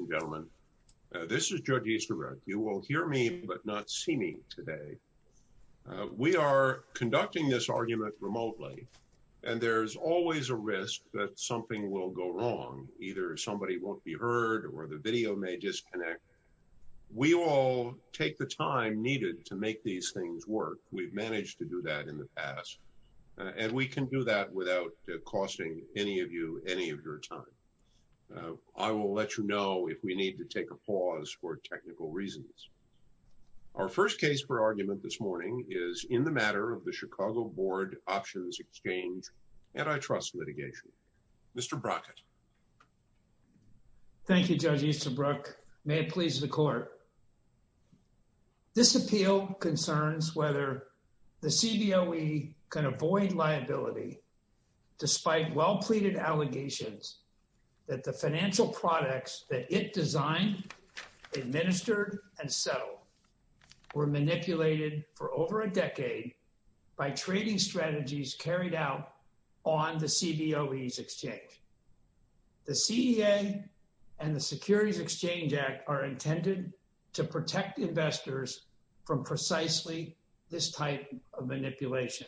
Ladies and gentlemen, this is Judge Easterbrook. You will hear me but not see me today. We are conducting this argument remotely, and there's always a risk that something will go wrong. Either somebody won't be heard or the video may disconnect. We will take the time needed to make these things work. We've managed to do that in the past, and we can do that without costing any of you any of your time. I will let you know if we need to take a pause for technical reasons. Our first case for argument this morning is in the matter of the Chicago Board Options Exchange antitrust litigation. Mr. Brockett. Thank you, Judge Easterbrook. May it please the Court. This appeal concerns whether the CBOE, despite well-pleaded allegations that the financial products that it designed, administered, and settled were manipulated for over a decade by trading strategies carried out on the CBOE's exchange. The CEA and the Securities Exchange Act are intended to protect investors from precisely this type of manipulation.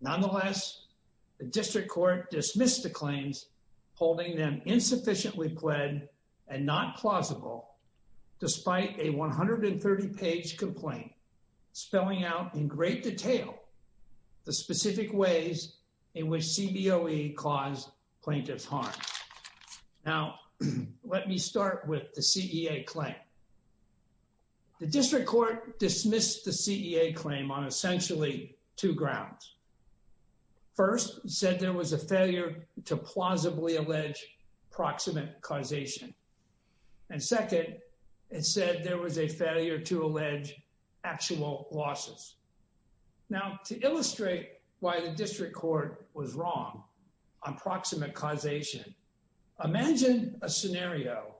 Nonetheless, the District Court dismissed the claims, holding them insufficiently pled and not plausible, despite a 130-page complaint spelling out in great detail the specific ways in which CBOE caused plaintiff's harm. Now, let me start with the CEA claim. The District Court dismissed the CEA claim on essentially two grounds. First, it said there was a failure to plausibly allege proximate causation. And second, it said there was a failure to allege actual losses. Now, to illustrate why the District Court was wrong on proximate causation, imagine a scenario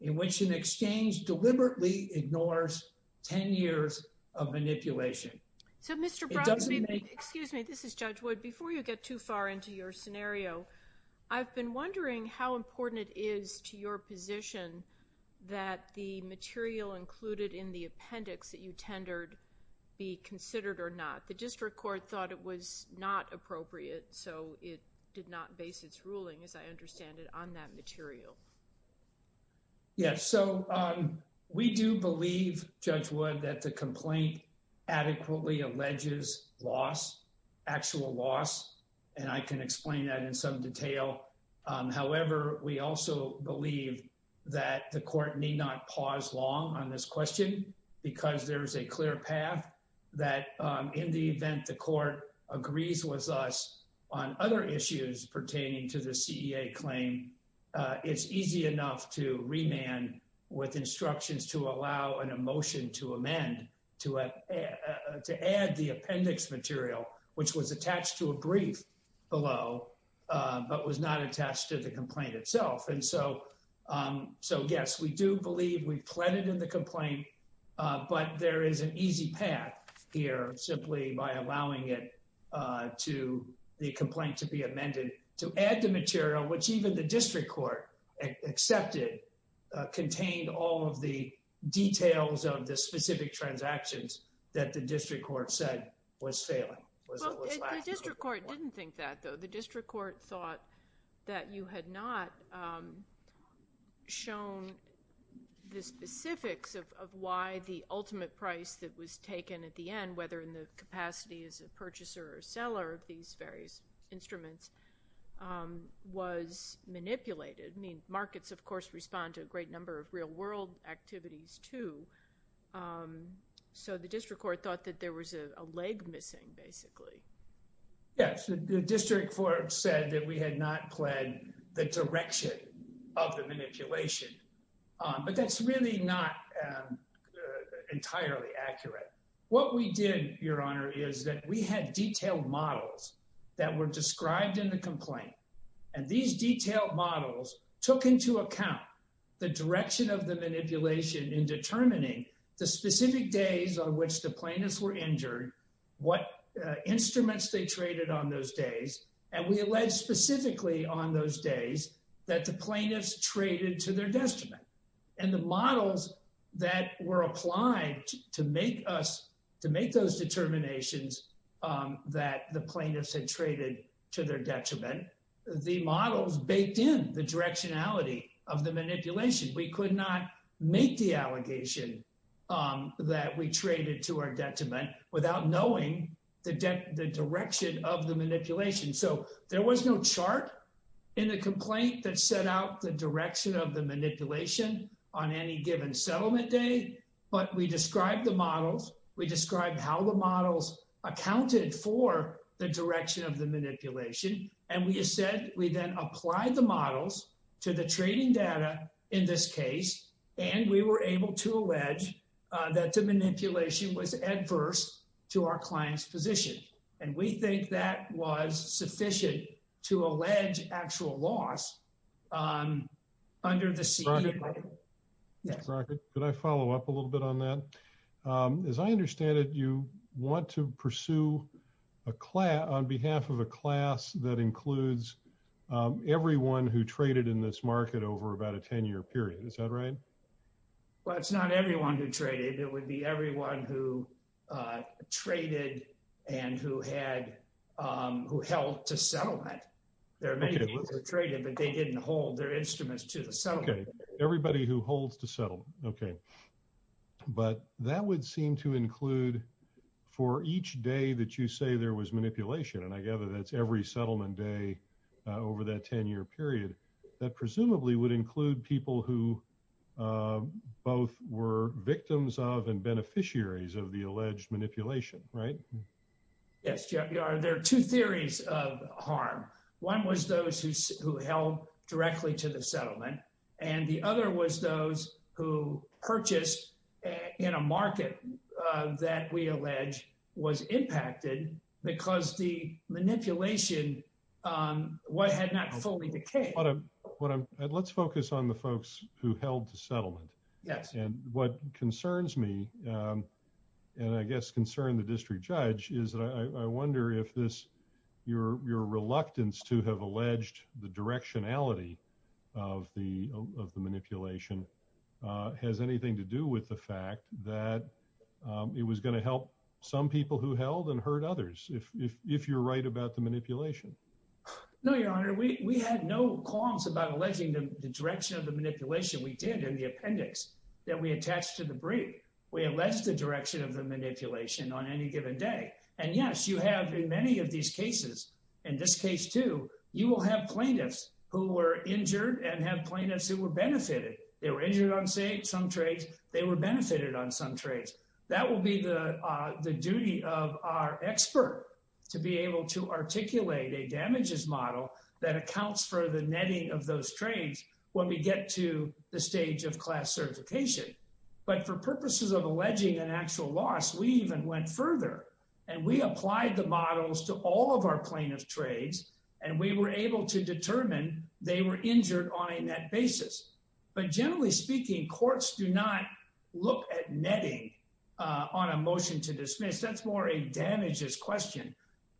in which an exchange deliberately ignores 10 years of manipulation. So Mr. Brockett, excuse me, this is Judge Wood. Before you get too far into your scenario, I've been wondering how important it is to your position that the material included in the appendix that you tendered be considered or not. The District Court thought it was not appropriate, so it did not base its ruling, as I understand it, on that material. Yes. So we do believe, Judge Wood, that the complaint adequately alleges loss, actual loss, and I can explain that in some detail. However, we also believe that the court need not pause long on this question because there is a clear path that in the event the court agrees with us on other issues pertaining to the CEA claim, it's easy enough to remand with instructions to allow a motion to amend to add the appendix material, which was attached to a brief below but was not attached to the complaint itself. And so, yes, we do believe we've pleaded in the complaint, but there is an easy path here simply by allowing it to the complaint to be amended to add the material, which even the District Court accepted contained all of the details of the specific transactions that the District Court said was failing, was lacking. Well, the District Court didn't think that, though. The District Court thought that you had not shown the specifics of why the ultimate price that was taken at the end, whether in the capacity as a purchaser or seller of these various instruments, was manipulated. I mean, markets, of course, respond to a great number of real-world activities, too. So the District Court thought that there was a leg missing, basically. Yes, the District Court said that we had not pled the direction of the manipulation, but that's really not entirely accurate. What we did, Your Honor, is that we had detailed models that were described in the complaint, and these detailed models took into account the direction of the manipulation in determining the specific days on which the plaintiffs were injured, what instruments they traded on those days, and we alleged specifically on those days that the plaintiffs traded to their detriment. And the models that were applied to make those determinations that the plaintiffs had traded to their detriment, the models baked in the directionality of the manipulation. We could not make the allegation that we traded to our detriment without knowing the direction of the manipulation. So there was no chart in the complaint that set out the direction of the manipulation on any given settlement day, but we described the models. We described how the models accounted for the direction of the manipulation, and we said we then applied the models to the trading data in this case, and we were able to allege that the manipulation was adverse to our client's position. And we think that was sufficient to allege actual loss under the CDA. Mr. Crockett, could I follow up a little bit on that? As I understand it, you want to pursue a class on behalf of a class that includes everyone who traded in this market over about a 10-year period. Is that right? Well, it's not everyone who traded. It would be everyone who traded and who held to settlement. There are many people who traded, but they didn't hold their instruments to the settlement. Okay, everybody who holds to settlement, okay. But that would seem to include for each day that you say there was manipulation, and I gather that's every settlement day over that 10-year period, that presumably would include people who both were victims of and beneficiaries of the alleged manipulation, right? Yes, there are two theories of harm. One was those who held directly to the settlement, and the other was those who purchased in a market that we allege was impacted because the manipulation had not fully decayed. Let's focus on the folks who held to settlement. Yes. And what concerns me, and I guess concern the district judge, is that I wonder if your reluctance to have alleged the directionality of the manipulation has anything to do with the fact that it was going to help some people who held and hurt others, if you're right about the manipulation. No, Your Honor. We had no qualms about alleging the direction of the manipulation. We did in the given day. And yes, you have in many of these cases, in this case too, you will have plaintiffs who were injured and have plaintiffs who were benefited. They were injured on some trades. They were benefited on some trades. That will be the duty of our expert to be able to articulate a damages model that accounts for the netting of those trades when we get to the stage of class certification. But for purposes of alleging an actual loss, we even went further, and we applied the models to all of our plaintiffs' trades, and we were able to determine they were injured on a net basis. But generally speaking, courts do not look at netting on a motion to dismiss. That's more a damages question.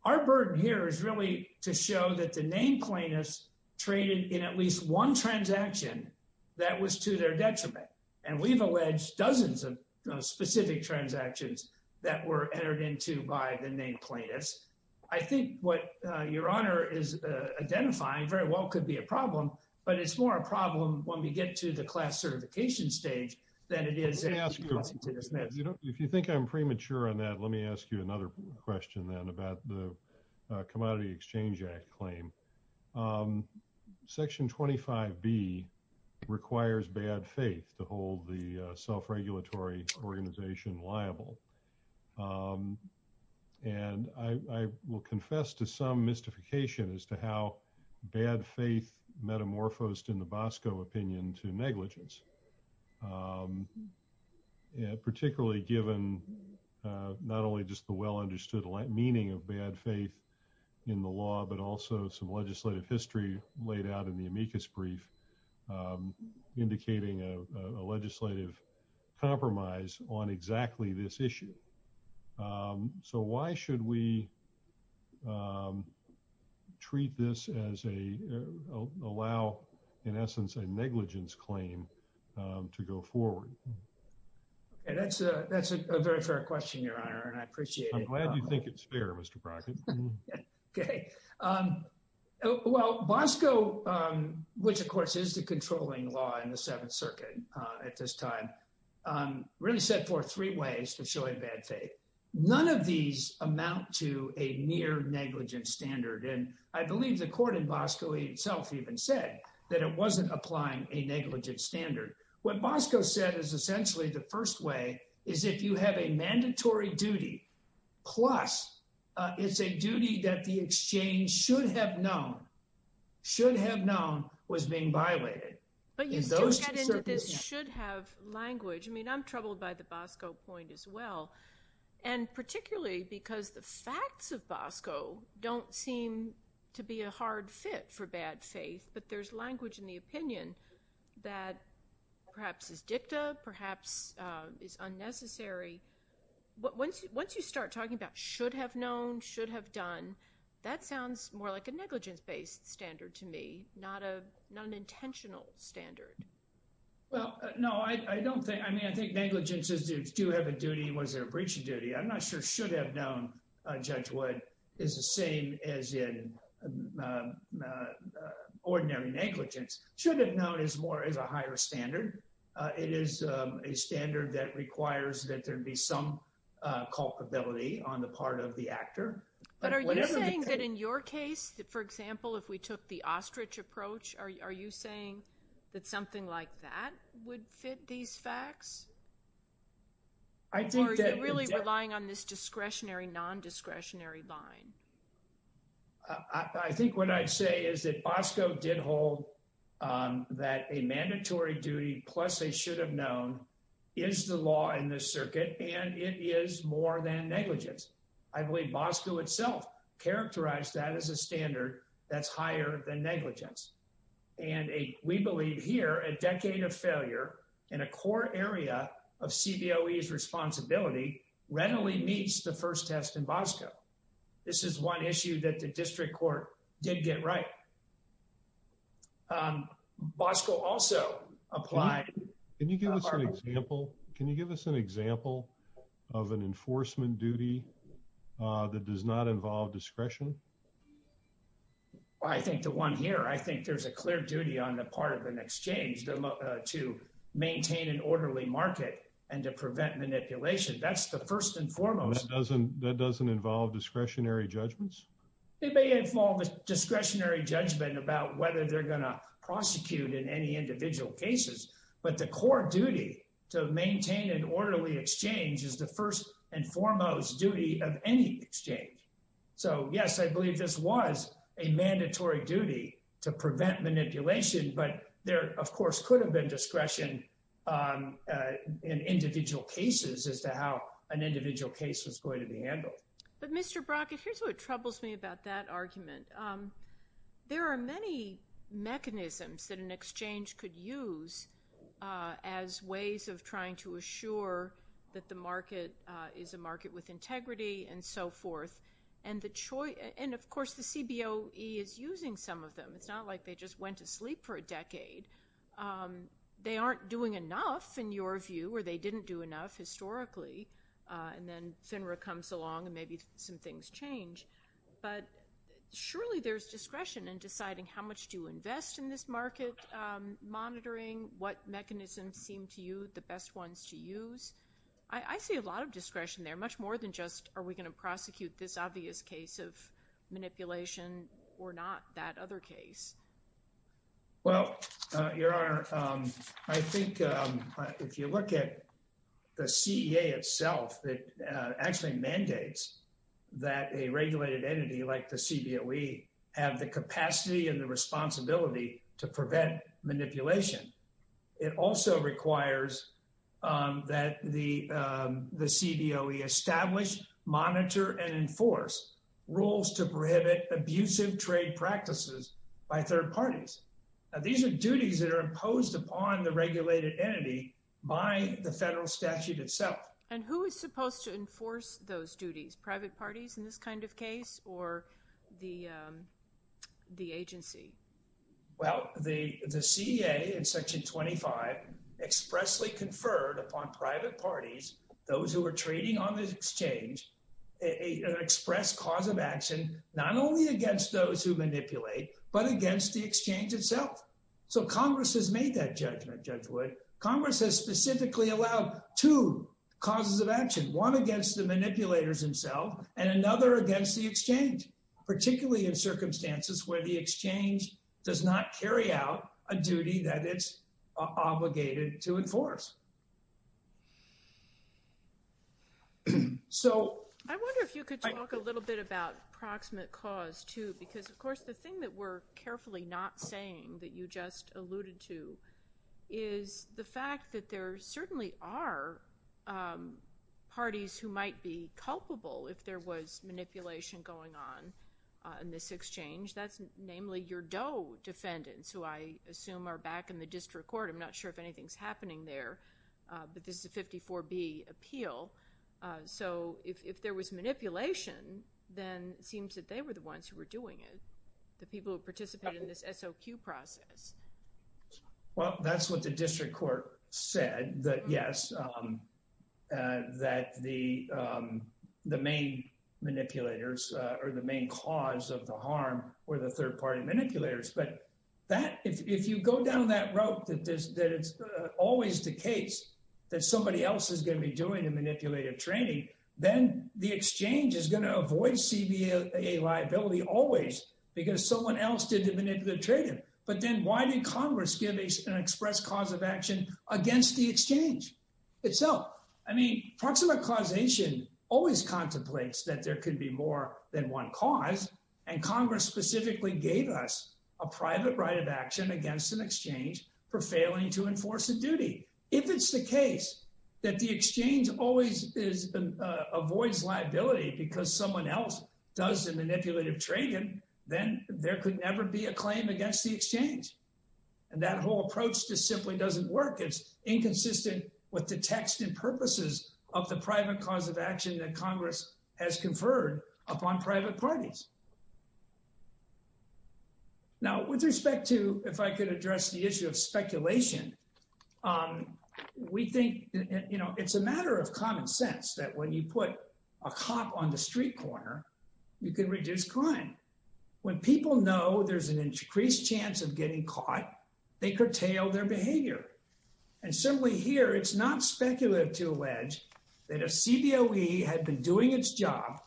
Our burden here is really to show that the named plaintiffs traded in at least one transaction that was to their detriment. And we've alleged dozens of specific transactions that were entered into by the named plaintiffs. I think what Your Honor is identifying very well could be a problem, but it's more a problem when we get to the class certification stage than it is if you think I'm premature on that. Let me ask you another question then about the Exchange Act claim. Section 25B requires bad faith to hold the self-regulatory organization liable. And I will confess to some mystification as to how bad faith metamorphosed in the Bosco opinion to negligence, particularly given not only just the well-understood meaning of bad faith in the law but also some legislative history laid out in the amicus brief indicating a legislative compromise on exactly this issue. So why should we treat this as a—allow, in essence, a negligence claim to go forward? Okay, that's a very fair question, Your Honor, and I appreciate it. I'm glad you think it's fair, Mr. Brockett. Okay. Well, Bosco, which of course is the controlling law in the Seventh Circuit at this time, really set forth three ways to show a bad faith. None of these amount to a near-negligent standard. And I believe the court in Bosco itself even said that it wasn't applying a negligent standard. What Bosco said is essentially the first way is if you have a mandatory duty, plus it's a duty that the exchange should have known was being violated. But you do get into this should-have language. I mean, I'm troubled by the Bosco point as well, and particularly because the facts of Bosco don't seem to be a hard fit for bad faith, but there's language in the opinion that perhaps is dicta, perhaps is unnecessary. But once you start talking about should have known, should have done, that sounds more like a negligence-based standard to me, not an intentional standard. Well, no, I don't think—I mean, I think negligence is do you have a duty? Was there a breach of duty? I'm not sure should have known, Judge Wood, is the same as in the ordinary negligence. Should have known is more as a higher standard. It is a standard that requires that there be some culpability on the part of the actor. But are you saying that in your case, for example, if we took the ostrich approach, are you saying that something like that would fit these facts? I think that— Or is it really relying on this discretionary, non-discretionary line? I think what I'd say is that Bosco did hold that a mandatory duty plus a should have known is the law in this circuit, and it is more than negligence. I believe Bosco itself characterized that as a standard that's higher than negligence. And we believe here a decade of failure in a core area of CBOE's responsibility readily meets the first test in Bosco. This is one issue that the district court did get right. Bosco also applied— Can you give us an example of an enforcement duty that does not involve discretion? I think the one here, I think there's a clear duty on the part of an exchange to maintain an orderly market and to prevent manipulation. That's the first and foremost— That doesn't involve discretionary judgments? It may involve a discretionary judgment about whether they're going to prosecute in any individual cases, but the core duty to maintain an orderly exchange is the first and foremost duty of any exchange. So yes, I believe this was a mandatory duty to prevent manipulation, but there, of course, could have been discretion in individual cases as to how an individual case was going to be handled. But Mr. Brockett, here's what troubles me about that argument. There are many mechanisms that an exchange could use as ways of trying to assure that the market is a market with integrity and so forth. And of course, the CBOE is using some of them. It's not like they just went to sleep for a decade. They aren't doing enough, in your case, historically. And then FINRA comes along and maybe some things change. But surely there's discretion in deciding how much to invest in this market, monitoring what mechanisms seem to you the best ones to use. I see a lot of discretion there, much more than just are we going to prosecute this obvious case of manipulation or not that other case. Well, Your Honor, I think if you look at the CEA itself, it actually mandates that a regulated entity like the CBOE have the capacity and the responsibility to prevent manipulation. It also requires that the CBOE establish, monitor, and enforce rules to prohibit abusive trade practices by third parties. Now, these are duties that are imposed upon the regulated entity by the federal statute itself. And who is supposed to enforce those duties, private parties in this kind of case or the agency? Well, the CEA in Section 25 expressly conferred upon private parties, those who are trading on this exchange, an express cause of action, not only against those who manipulate, but against the exchange itself. So Congress has made that judgment, Judge Wood. Congress has specifically allowed two causes of action, one against the manipulators themselves and another against the exchange, particularly in circumstances where the exchange does not carry out a duty that it's obligated to enforce. I wonder if you could talk a little bit about proximate cause, too, because, of course, the thing that we're carefully not saying that you just alluded to is the fact that there certainly are parties who might be culpable if there was manipulation going on in this exchange. That's namely your Doe defendants, who I assume are back in the district court. I'm not sure if anything's but this is a 54B appeal. So if there was manipulation, then it seems that they were the ones who were doing it, the people who participated in this SOQ process. Well, that's what the district court said, that yes, that the main manipulators or the main cause of the harm were the third party manipulators. But that if you go down that rope, that it's always the case that somebody else is going to be doing the manipulative training, then the exchange is going to avoid CBA liability always because someone else did the manipulative trading. But then why did Congress give an express cause of action against the exchange itself? I mean, proximate causation always contemplates that there could be more than one cause, and Congress specifically gave us a private right of action against an exchange for failing to enforce a duty. If it's the case that the exchange always avoids liability because someone else does the manipulative trading, then there could never be a claim against the exchange. And that whole approach just simply doesn't work. It's inconsistent with the text and purposes of the private cause of action that Congress has conferred upon private parties. Now, with respect to if I could address the issue of speculation, we think, you know, it's a matter of common sense that when you put a cop on the street corner, you can reduce crime. When people know there's an increased chance of getting caught, they curtail their behavior. And certainly here, it's not speculative to allege that if CBOE had been doing its job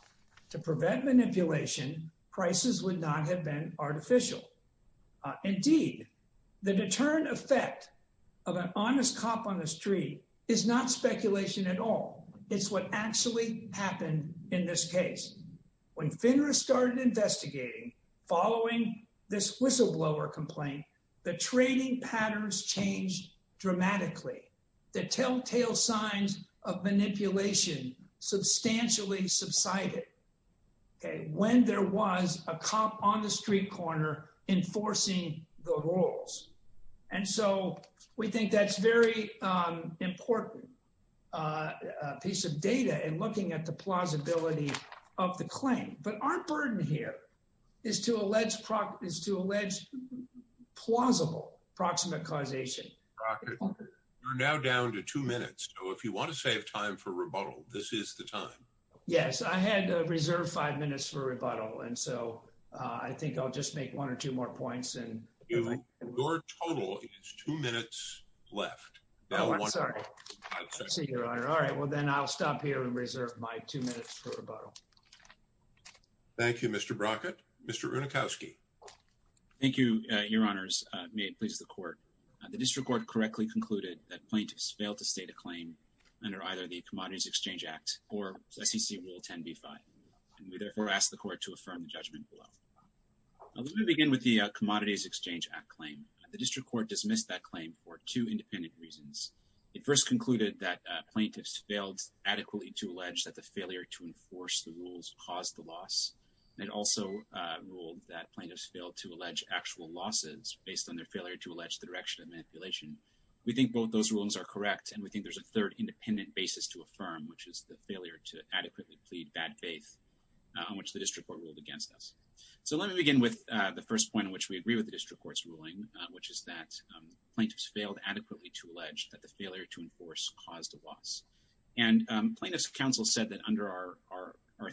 to prevent manipulation, prices would not have been artificial. Indeed, the deterrent effect of an honest cop on the street is not speculation at all. It's what actually happened in this case. When FINRA started investigating, following this whistleblower complaint, the trading patterns changed was a cop on the street corner enforcing the rules. And so we think that's a very important piece of data in looking at the plausibility of the claim. But our burden here is to allege plausible proximate causation. We're now down to two minutes. So if you want to save time for rebuttal, this is the time. Yes, I had reserved five minutes for rebuttal. And so I think I'll just make one or two more points. Your total is two minutes left. I'm sorry. All right. Well, then I'll stop here and reserve my two minutes for rebuttal. Thank you, Mr. Brockett. Mr. Unikowski. Thank you, your honors. May it please the court. The district court correctly concluded that the plaintiffs failed adequately to allege that the failure to enforce the rules caused the loss. It also ruled that plaintiffs failed to allege actual losses based on their failure to allege the direction of manipulation. We think both those rulings are correct. And we think there's a third independent basis to affirm, which is the failure to adequately plead bad faith on which the district court ruled against us. So let me begin with the first point in which we agree with the district court's ruling, which is that plaintiffs failed adequately to allege that the failure to enforce caused a loss. And plaintiff's counsel said that under our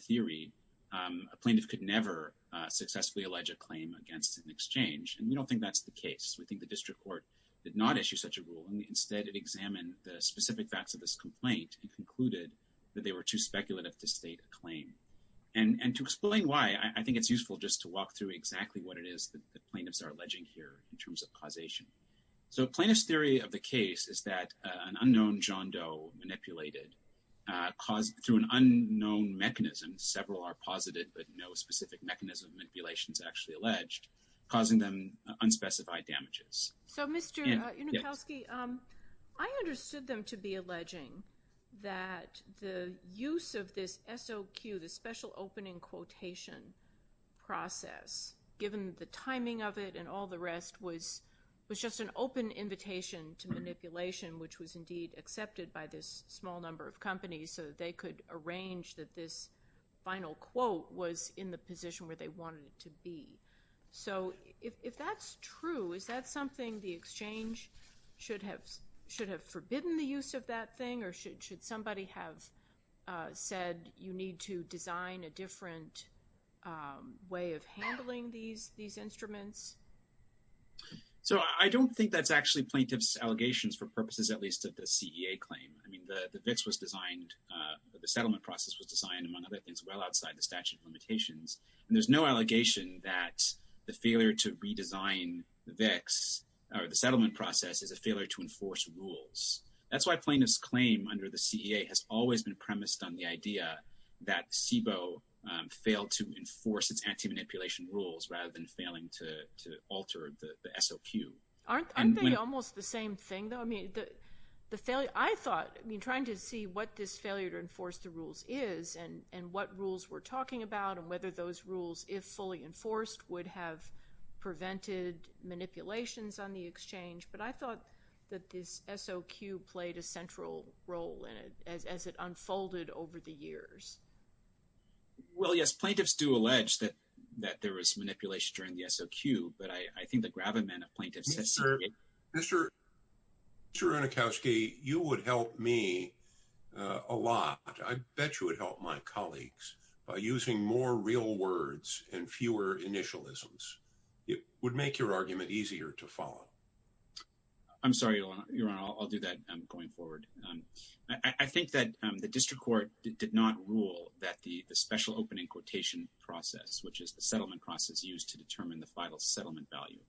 theory, a plaintiff could never successfully allege a claim against an exchange. And we don't think that's the case. We think the district court did not issue such a rule. And instead, it examined the specific facts of this complaint and concluded that they were too speculative to state a claim. And to explain why, I think it's useful just to walk through exactly what it is that plaintiffs are alleging here in terms of causation. So plaintiff's theory of the case is that an unknown John Doe manipulated through an unknown mechanism. Several are posited, but no specific mechanism of manipulation is actually alleged, causing them unspecified damages. So Mr. Unikowski, I understood them to be alleging that the use of this SOQ, the special opening quotation process, given the timing of it and all the rest, was just an open invitation to manipulation, which was indeed accepted by this small number of companies so that they could arrange that this final quote was in the position where they wanted it to be. So if that's true, is that something the exchange should have forbidden the use of that thing? Or should somebody have said you need to design a different way of handling these instruments? So I don't think that's actually plaintiff's allegations for purposes at least of the CEA claim. I mean, the VIX was designed, the settlement process was designed, among other things, well the failure to redesign the VIX or the settlement process is a failure to enforce rules. That's why plaintiff's claim under the CEA has always been premised on the idea that CBO failed to enforce its anti-manipulation rules rather than failing to alter the SOQ. Aren't they almost the same thing though? I mean, the failure, I thought, I mean, trying to see what this failure to enforce the rules is and what rules we're talking about and whether those rules, if fully enforced, would have prevented manipulations on the exchange. But I thought that this SOQ played a central role in it as it unfolded over the years. Well, yes, plaintiffs do allege that there was manipulation during the SOQ, but I think the gravamen of plaintiffs... Mr. Aronofsky, you would help me a lot. I bet you would help my colleagues by using more real words and fewer initialisms. It would make your argument easier to follow. I'm sorry, Your Honor. I'll do that going forward. I think that the district court did not rule that the special opening quotation process, which is the settlement process used to determine the final settlement value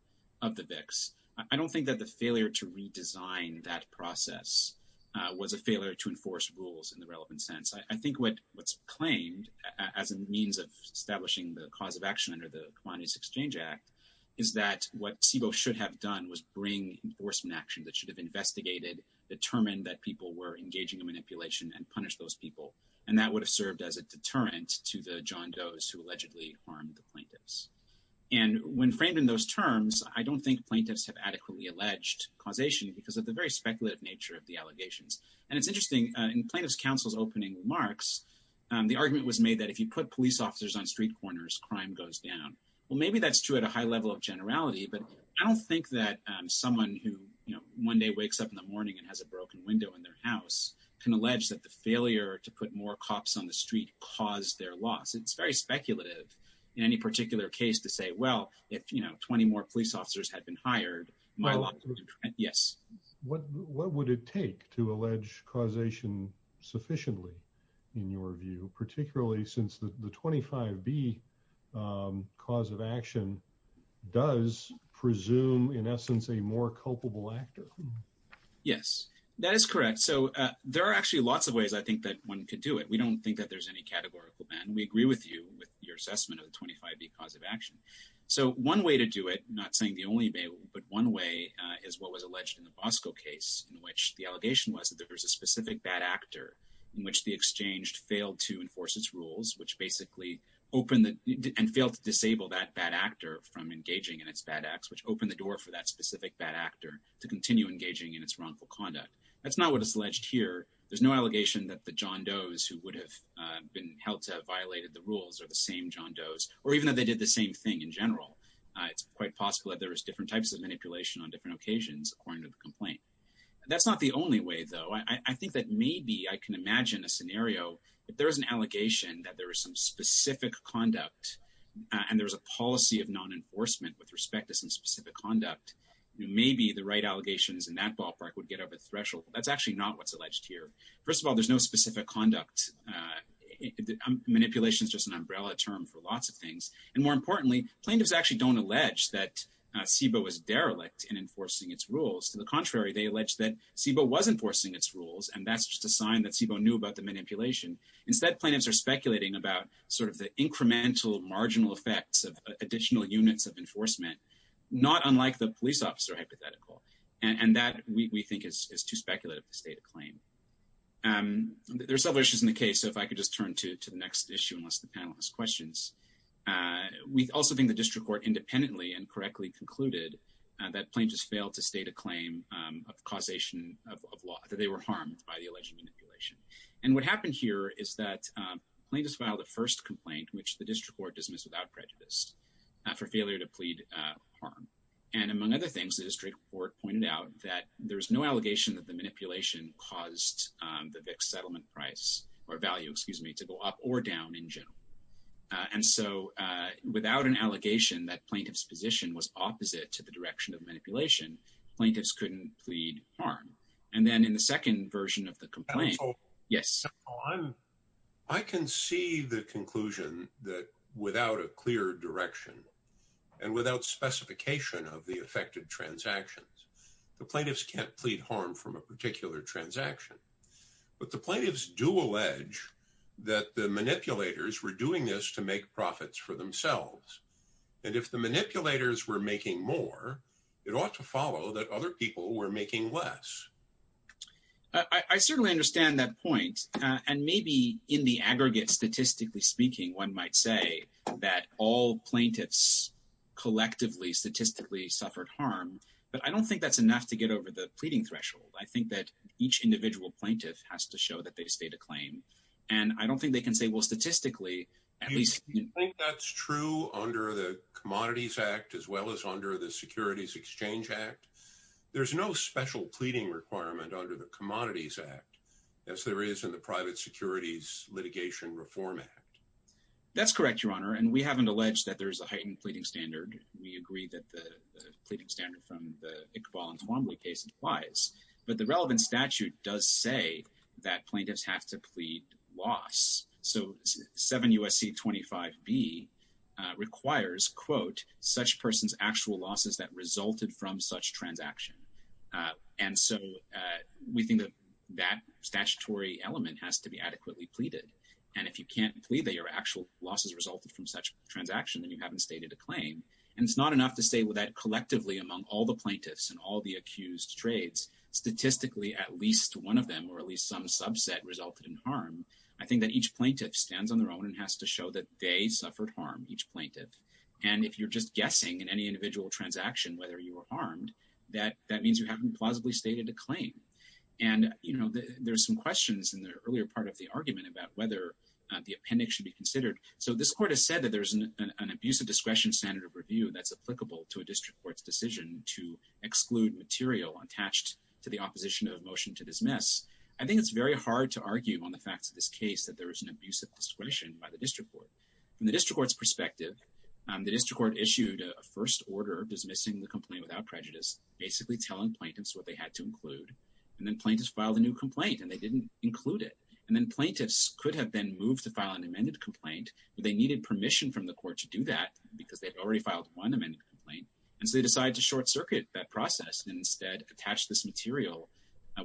of the VIX, I don't think that the failure to redesign that process was a failure to enforce rules in the relevant sense. I think what's claimed as a means of establishing the cause of action under the Commodities Exchange Act is that what SIBO should have done was bring enforcement action that should have investigated, determined that people were engaging in manipulation and punished those people. And that would have served as a deterrent to the John Doe's who allegedly harmed the plaintiffs. And when framed in those terms, I don't think plaintiffs have adequately alleged causation because of the very speculative nature of the allegations. And it's interesting, in plaintiff's counsel's opening remarks, the argument was made that if you put police officers on street corners, crime goes down. Well, maybe that's true at a high level of generality, but I don't think that someone who, you know, one day wakes up in the morning and has a broken window in their house can allege that the failure to put more cops on the street caused their loss. It's very speculative in any particular case to say, well, if, you know, 20 more police officers had been hired, well, yes. What would it take to allege causation sufficiently, in your view, particularly since the 25B cause of action does presume, in essence, a more culpable actor? Yes, that is correct. So there are actually lots of ways I think that one could do it. We don't think that there's any categorical ban. We agree with you with your assessment of the 25B cause of action. So one way to do it, not saying the only way, but one way is what was alleged in the Bosco case, in which the allegation was that there was a specific bad actor in which the exchange failed to enforce its rules, which basically opened and failed to disable that bad actor from engaging in its bad acts, which opened the door for that specific bad actor to continue engaging in its wrongful conduct. That's not what is alleged here. There's no allegation that the John Does who would have been held to have violated the rules are the same John Does, or even though they did the same thing in general. It's quite possible that there was different types of manipulation on different occasions according to the complaint. That's not the only way, though. I think that maybe I can imagine a scenario if there is an allegation that there is some specific conduct and there's a policy of non-enforcement with respect to some specific conduct. Maybe the right allegations in that ballpark would get up a threshold. That's actually not what's alleged here. First of all, there's no specific conduct. Manipulation is just an umbrella term for lots of things. More importantly, plaintiffs actually don't allege that SIBO was derelict in enforcing its rules. To the contrary, they allege that SIBO was enforcing its rules, and that's just a sign that SIBO knew about the manipulation. Instead, plaintiffs are speculating about the incremental marginal effects of additional units of enforcement, not unlike the police officer hypothetical. That, we think, is too speculative to state a claim. There are several issues in the case. If I could just turn to the next issue, unless the panel has questions. We also think the district court independently and correctly concluded that plaintiffs failed to state a claim of causation of law, that they were harmed by the alleged manipulation. What happened here is that plaintiffs filed the first complaint, which the district court dismissed without prejudice, for failure to plead harm. Among other things, the district court pointed out that there's no allegation that the manipulation caused the VIX settlement price, or value, excuse me, to go up or down in general. And so, without an allegation that plaintiff's position was opposite to the direction of manipulation, plaintiffs couldn't plead harm. And then in the second version of the complaint, yes. I can see the conclusion that without a clear direction, and without specification of the affected transactions, the plaintiffs can't plead harm from a particular transaction. But the plaintiffs do allege that the manipulators were doing this to make profits for themselves. And if the manipulators were making more, it ought to follow that other people were making less. I certainly understand that point. And maybe in the aggregate, statistically speaking, one might say that all plaintiffs collectively, statistically suffered harm. But I don't think that's enough to get over the pleading threshold. I think that each individual plaintiff has to show that they state a claim. And I don't think they can say, well, statistically, at least... Do you think that's true under the Commodities Act, as well as under the Securities Exchange Act? There's no special pleading requirement under the Commodities Act, as there is in the Private Securities Litigation Reform Act. That's correct, Your Honor. And we haven't alleged that there's a heightened pleading standard. We agree that the pleading standard from the Iqbal and Twombly case applies. But the relevant statute does say that plaintiffs have to plead loss. So 7 U.S.C. 25b requires, quote, such person's actual losses that resulted from such transaction. And so we think that that statutory element has to be adequately pleaded. And if you can't plead that your actual losses resulted from such transaction, then you haven't stated a claim. And it's not enough to say, well, that collectively among all the plaintiffs and all the accused trades, statistically, at least one of them, or at least some subset resulted in harm, each plaintiff. And if you're just guessing in any individual transaction whether you were harmed, that means you haven't plausibly stated a claim. And, you know, there's some questions in the earlier part of the argument about whether the appendix should be considered. So this court has said that there's an abusive discretion standard of review that's applicable to a district court's decision to exclude material attached to the opposition of motion to dismiss. I think it's very hard to argue on the facts of this case that there is an abusive discretion by the district court. From the district court's perspective, the district court issued a first order dismissing the complaint without prejudice, basically telling plaintiffs what they had to include. And then plaintiffs filed a new complaint, and they didn't include it. And then plaintiffs could have been moved to file an amended complaint, but they needed permission from the court to do that because they'd already filed one amended complaint. And so they decided to short circuit that process and instead attach this material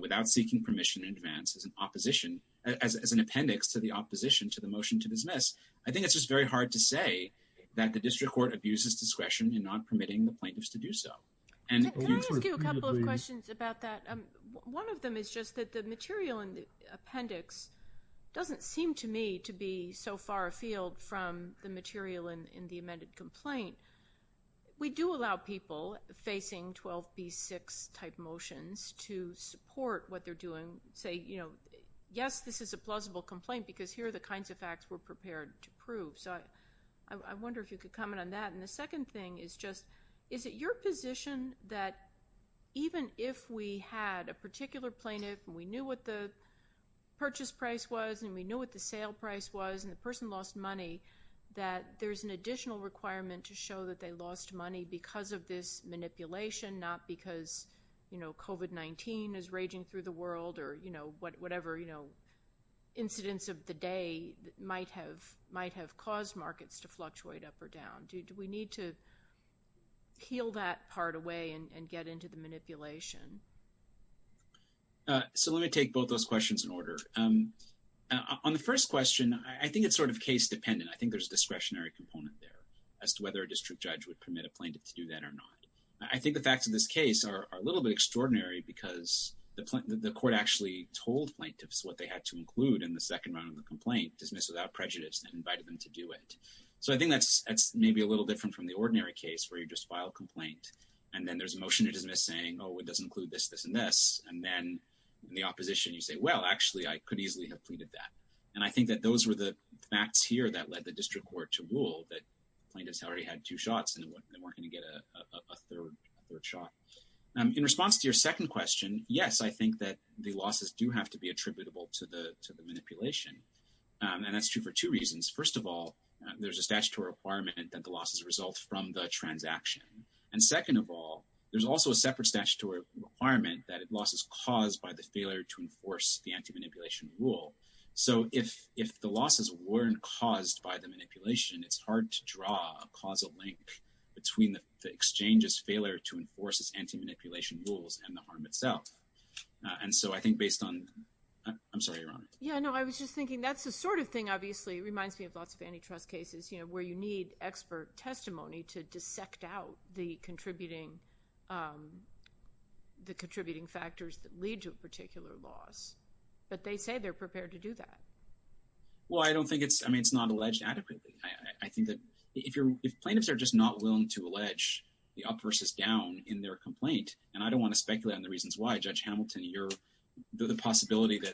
without seeking permission in advance as an appendix to the motion to dismiss. I think it's just very hard to say that the district court abuses discretion in not permitting the plaintiffs to do so. Can I ask you a couple of questions about that? One of them is just that the material in the appendix doesn't seem to me to be so far afield from the material in the amended complaint. We do allow people facing 12b6 type motions to support what they're doing, say, you know, yes, this is a plausible complaint because here are the kinds of facts we're prepared to prove. So I wonder if you could comment on that. And the second thing is just, is it your position that even if we had a particular plaintiff and we knew what the purchase price was and we knew what the sale price was and the person lost money, that there's an additional requirement to show that they lost money because of this manipulation, not because, you know, COVID-19 is raging through the world or, you know, whatever, you know, incidents of the day that might have caused markets to fluctuate up or down? Do we need to keel that part away and get into the manipulation? So let me take both those questions in order. On the first question, I think it's sort of case dependent. I think there's a discretionary component there as to whether a district judge would permit a plaintiff to do that or not. I think the facts of this case are a little bit dismissed without prejudice and invited them to do it. So I think that's maybe a little different from the ordinary case where you just file a complaint and then there's a motion to dismiss saying, oh, it doesn't include this, this, and this. And then in the opposition, you say, well, actually, I could easily have pleaded that. And I think that those were the facts here that led the district court to rule that plaintiffs already had two shots and they weren't going to get a third shot. In response to your second question, yes, I think that the losses do have to be attributable to the manipulation. And that's true for two reasons. First of all, there's a statutory requirement that the losses result from the transaction. And second of all, there's also a separate statutory requirement that a loss is caused by the failure to enforce the anti-manipulation rule. So if the losses weren't caused by the manipulation, it's hard to draw a causal link between the exchange's failure to enforce its anti-manipulation rules and the harm itself. And so I think based on, I'm sorry, Ron. Yeah, no, I was just thinking that's the sort of thing, obviously, it reminds me of lots of antitrust cases, you know, where you need expert testimony to dissect out the contributing factors that lead to a particular loss. But they say they're prepared to do that. Well, I don't think it's, I mean, it's not alleged adequately. I think that if plaintiffs are just not willing to allege the up versus down in their complaint, and I don't want to speculate on the reasons why, Judge Hamilton, the possibility that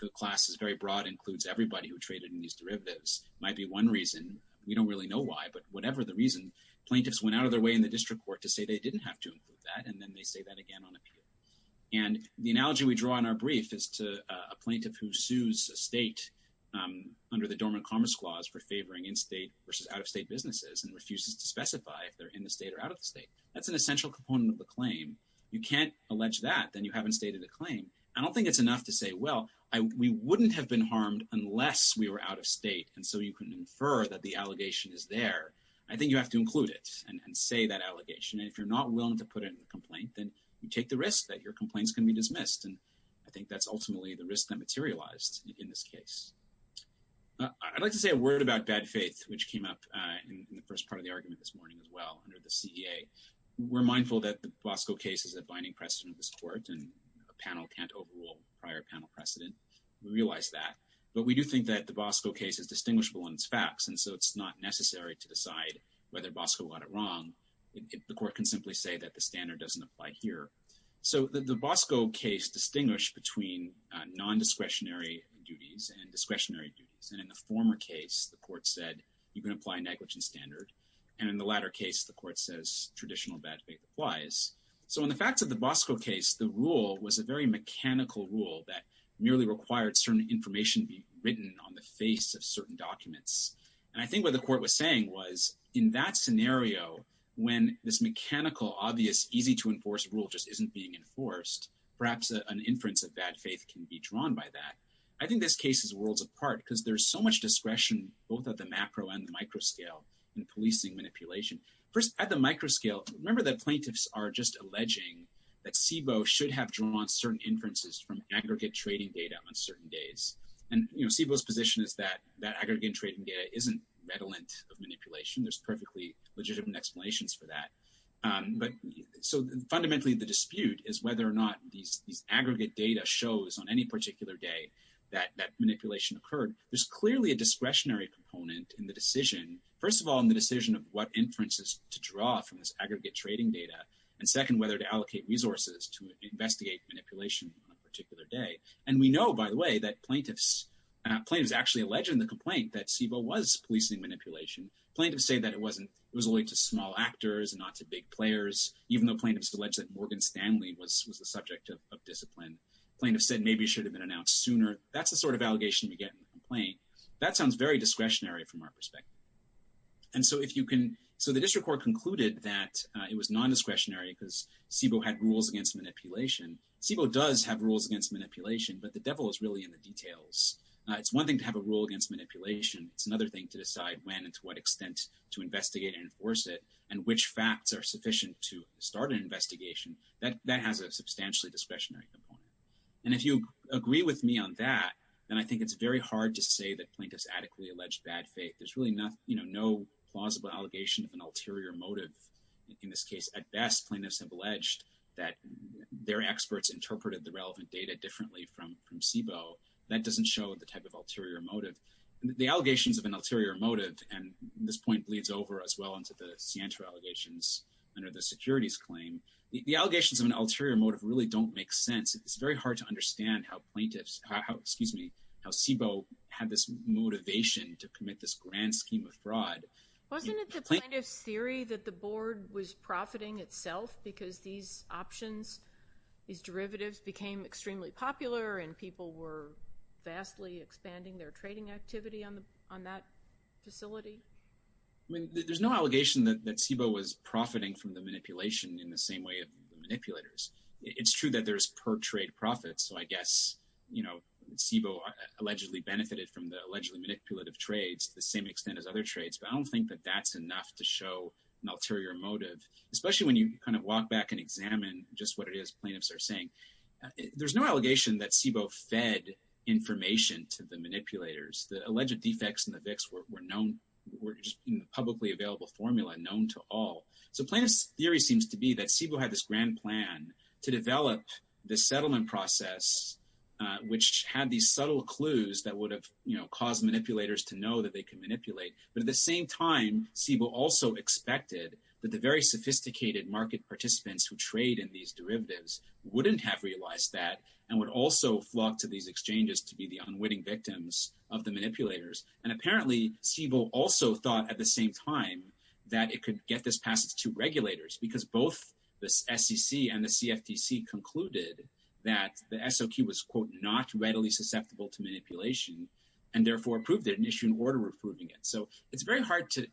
the class is very broad includes everybody who traded in these derivatives might be one reason. We don't really know why, but whatever the reason, plaintiffs went out of their way in the district court to say they didn't have to include that, and then they say that again on appeal. And the analogy we draw in our brief is to a plaintiff who sues a state under the Dormant Commerce Clause for favoring in-state versus out-of-state businesses and refuses to specify if they're in the state or out of the claim. You can't allege that, then you haven't stated a claim. I don't think it's enough to say, well, we wouldn't have been harmed unless we were out of state, and so you can infer that the allegation is there. I think you have to include it and say that allegation. And if you're not willing to put it in the complaint, then you take the risk that your complaints can be dismissed. And I think that's ultimately the risk that materialized in this case. I'd like to say a word about bad faith, which came up in the first part of the argument this morning as well under the CEA. We're mindful that the Bosco case is a binding precedent of this Court, and a panel can't overrule prior panel precedent. We realize that. But we do think that the Bosco case is distinguishable in its facts, and so it's not necessary to decide whether Bosco got it wrong. The Court can simply say that the standard doesn't apply here. So the Bosco case distinguished between non-discretionary duties and discretionary duties. And in the former case, the Court said you can apply negligence standard. And in the latter case, the Court says traditional bad faith applies. So in the facts of the Bosco case, the rule was a very mechanical rule that merely required certain information be written on the face of certain documents. And I think what the Court was saying was, in that scenario, when this mechanical, obvious, easy-to-enforce rule just isn't being enforced, perhaps an inference of bad faith can be drawn by that. I think this case is worlds apart because there's so much discretion, both at the macro and the micro scale, in policing manipulation. First, at the micro scale, remember that plaintiffs are just alleging that CBOE should have drawn certain inferences from aggregate trading data on certain days. And, you know, CBOE's position is that that aggregate trading data isn't redolent of manipulation. There's perfectly legitimate explanations for that. But so fundamentally, the dispute is whether or not these aggregate data shows on any particular day that manipulation occurred. There's clearly a discretionary component in the decision, first of all, in the decision of what inferences to draw from this aggregate trading data, and second, whether to allocate resources to investigate manipulation on a particular day. And we know, by the way, that plaintiffs actually alleged in the complaint that CBOE was policing manipulation. Plaintiffs say that it wasn't. It was only to small actors and not to big players, even though plaintiffs alleged that Morgan Stanley was the subject of discipline. Plaintiffs said maybe it should have been announced sooner. That's the sort of allegation we get in the complaint. That sounds very discretionary from our perspective. And so if you can, so the district court concluded that it was non-discretionary because CBOE had rules against manipulation. CBOE does have rules against manipulation, but the devil is really in the details. It's one thing to have a rule against manipulation. It's another thing to decide when and to what extent to investigate and enforce it, and which facts are sufficient to start an investigation. And if you agree with me on that, then I think it's very hard to say that plaintiffs adequately alleged bad faith. There's really not, you know, no plausible allegation of an ulterior motive in this case. At best, plaintiffs have alleged that their experts interpreted the relevant data differently from CBOE. That doesn't show the type of ulterior motive. The allegations of an ulterior motive, and this point bleeds over as well into the scienter allegations under the securities claim, the allegations of an ulterior motive really don't make sense. It's very hard to understand how plaintiffs, how excuse me, how CBOE had this motivation to commit this grand scheme of fraud. Wasn't it the plaintiff's theory that the board was profiting itself because these options, these derivatives became extremely popular and people were vastly expanding their trading activity on that facility? I mean, there's no allegation that CBOE was profiting from the manipulation in the same way of the manipulators. It's true that there's per trade profits, so I guess, you know, CBOE allegedly benefited from the allegedly manipulative trades to the same extent as other trades, but I don't think that that's enough to show an ulterior motive, especially when you kind of walk back and examine just what it is plaintiffs are saying. There's no allegation that CBOE fed information to the manipulators. The alleged defects in the VIX were known, were just in the publicly available formula known to all. So plaintiff's theory seems to be that CBOE had this grand plan to develop the settlement process, which had these subtle clues that would have, you know, caused manipulators to know that they could manipulate. But at the same time, CBOE also expected that the very sophisticated market participants who trade in these derivatives wouldn't have realized that and would also flock to these exchanges to be the unwitting victims of the manipulators. And apparently, CBOE also thought at the same time that it could get this past its two regulators because both the SEC and the CFTC concluded that the SOQ was, quote, not readily susceptible to manipulation and therefore approved it and issued an order approving it. So it's very hard to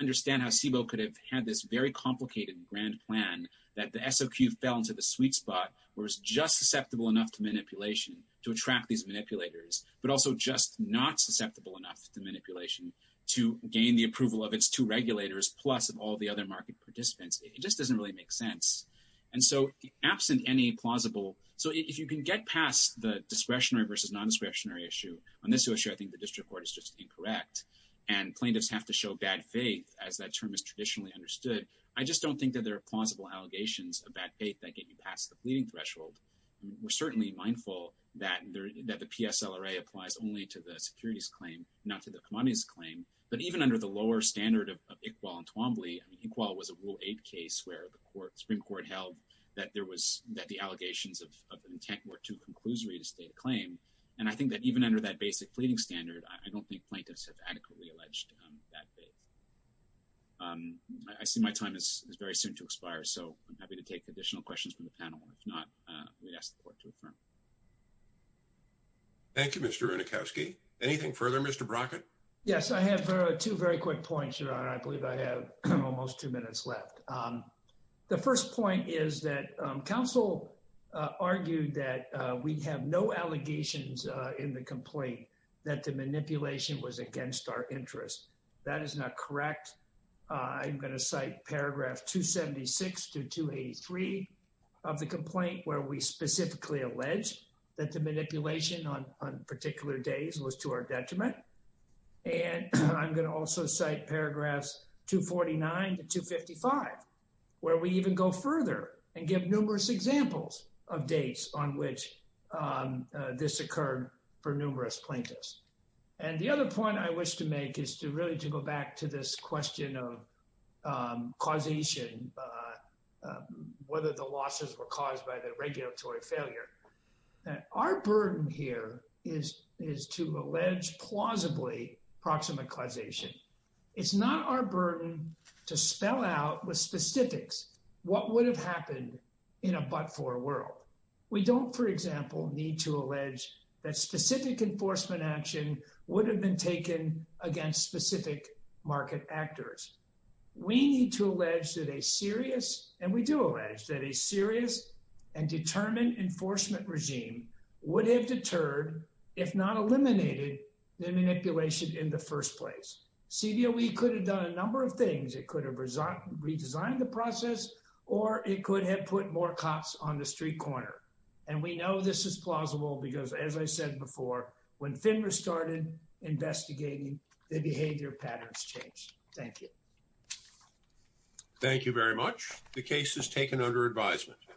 understand how CBOE could have had this very complicated grand plan that the SOQ fell into the sweet spot, was just susceptible enough to manipulation to attract these manipulators, but also just not susceptible enough to manipulation to gain the approval of its two regulators plus of all the other market participants. It just doesn't really make sense. And so absent any plausible, so if you can get past the discretionary versus non-discretionary issue on this issue, I think the district court is just incorrect. And plaintiffs have to show bad faith as that term is traditionally understood. I just don't think that there are plausible allegations of bad faith that get you past the fleeting threshold. We're certainly mindful that the PSLRA applies only to the securities claim, not to the commodities claim. But even under the lower standard of Iqbal and Twombly, I mean, Iqbal was a Rule 8 case where the Supreme Court held that there was, that the allegations of intent were too conclusory to state a claim. And I think that even under that basic standard, I don't think plaintiffs have adequately alleged bad faith. I see my time is very soon to expire, so I'm happy to take additional questions from the panel. If not, we'd ask the court to affirm. Thank you, Mr. Runacowski. Anything further, Mr. Brockett? Yes, I have two very quick points, Your Honor. I believe I have almost two minutes left. The first point is that counsel argued that we have no allegations in the complaint that the manipulation was against our interest. That is not correct. I'm going to cite paragraph 276 to 283 of the complaint where we specifically alleged that the manipulation on particular days was to our detriment. And I'm going to also cite paragraphs 249 to 255, where we even go further and give numerous examples of dates on which this occurred for numerous plaintiffs. And the other point I wish to make is to really to go back to this question of causation, whether the losses were caused by the regulatory failure. Our burden here is to allege plausibly proximate causation. It's not our burden to spell out with specifics what would have happened in a but-for world. We don't, for example, need to allege that specific enforcement action would have been taken against specific market actors. We need to allege that a serious, and we do allege that a serious and determined enforcement regime would have deterred, if not eliminated, the manipulation in the first place. CDOE could have done a number of things. It could have redesigned the process, or it could have put more cops on the street corner. And we know this is plausible because, as I said before, when FINRA started investigating, the behavior patterns changed. Thank you. Thank you very much. The case is taken under advisement.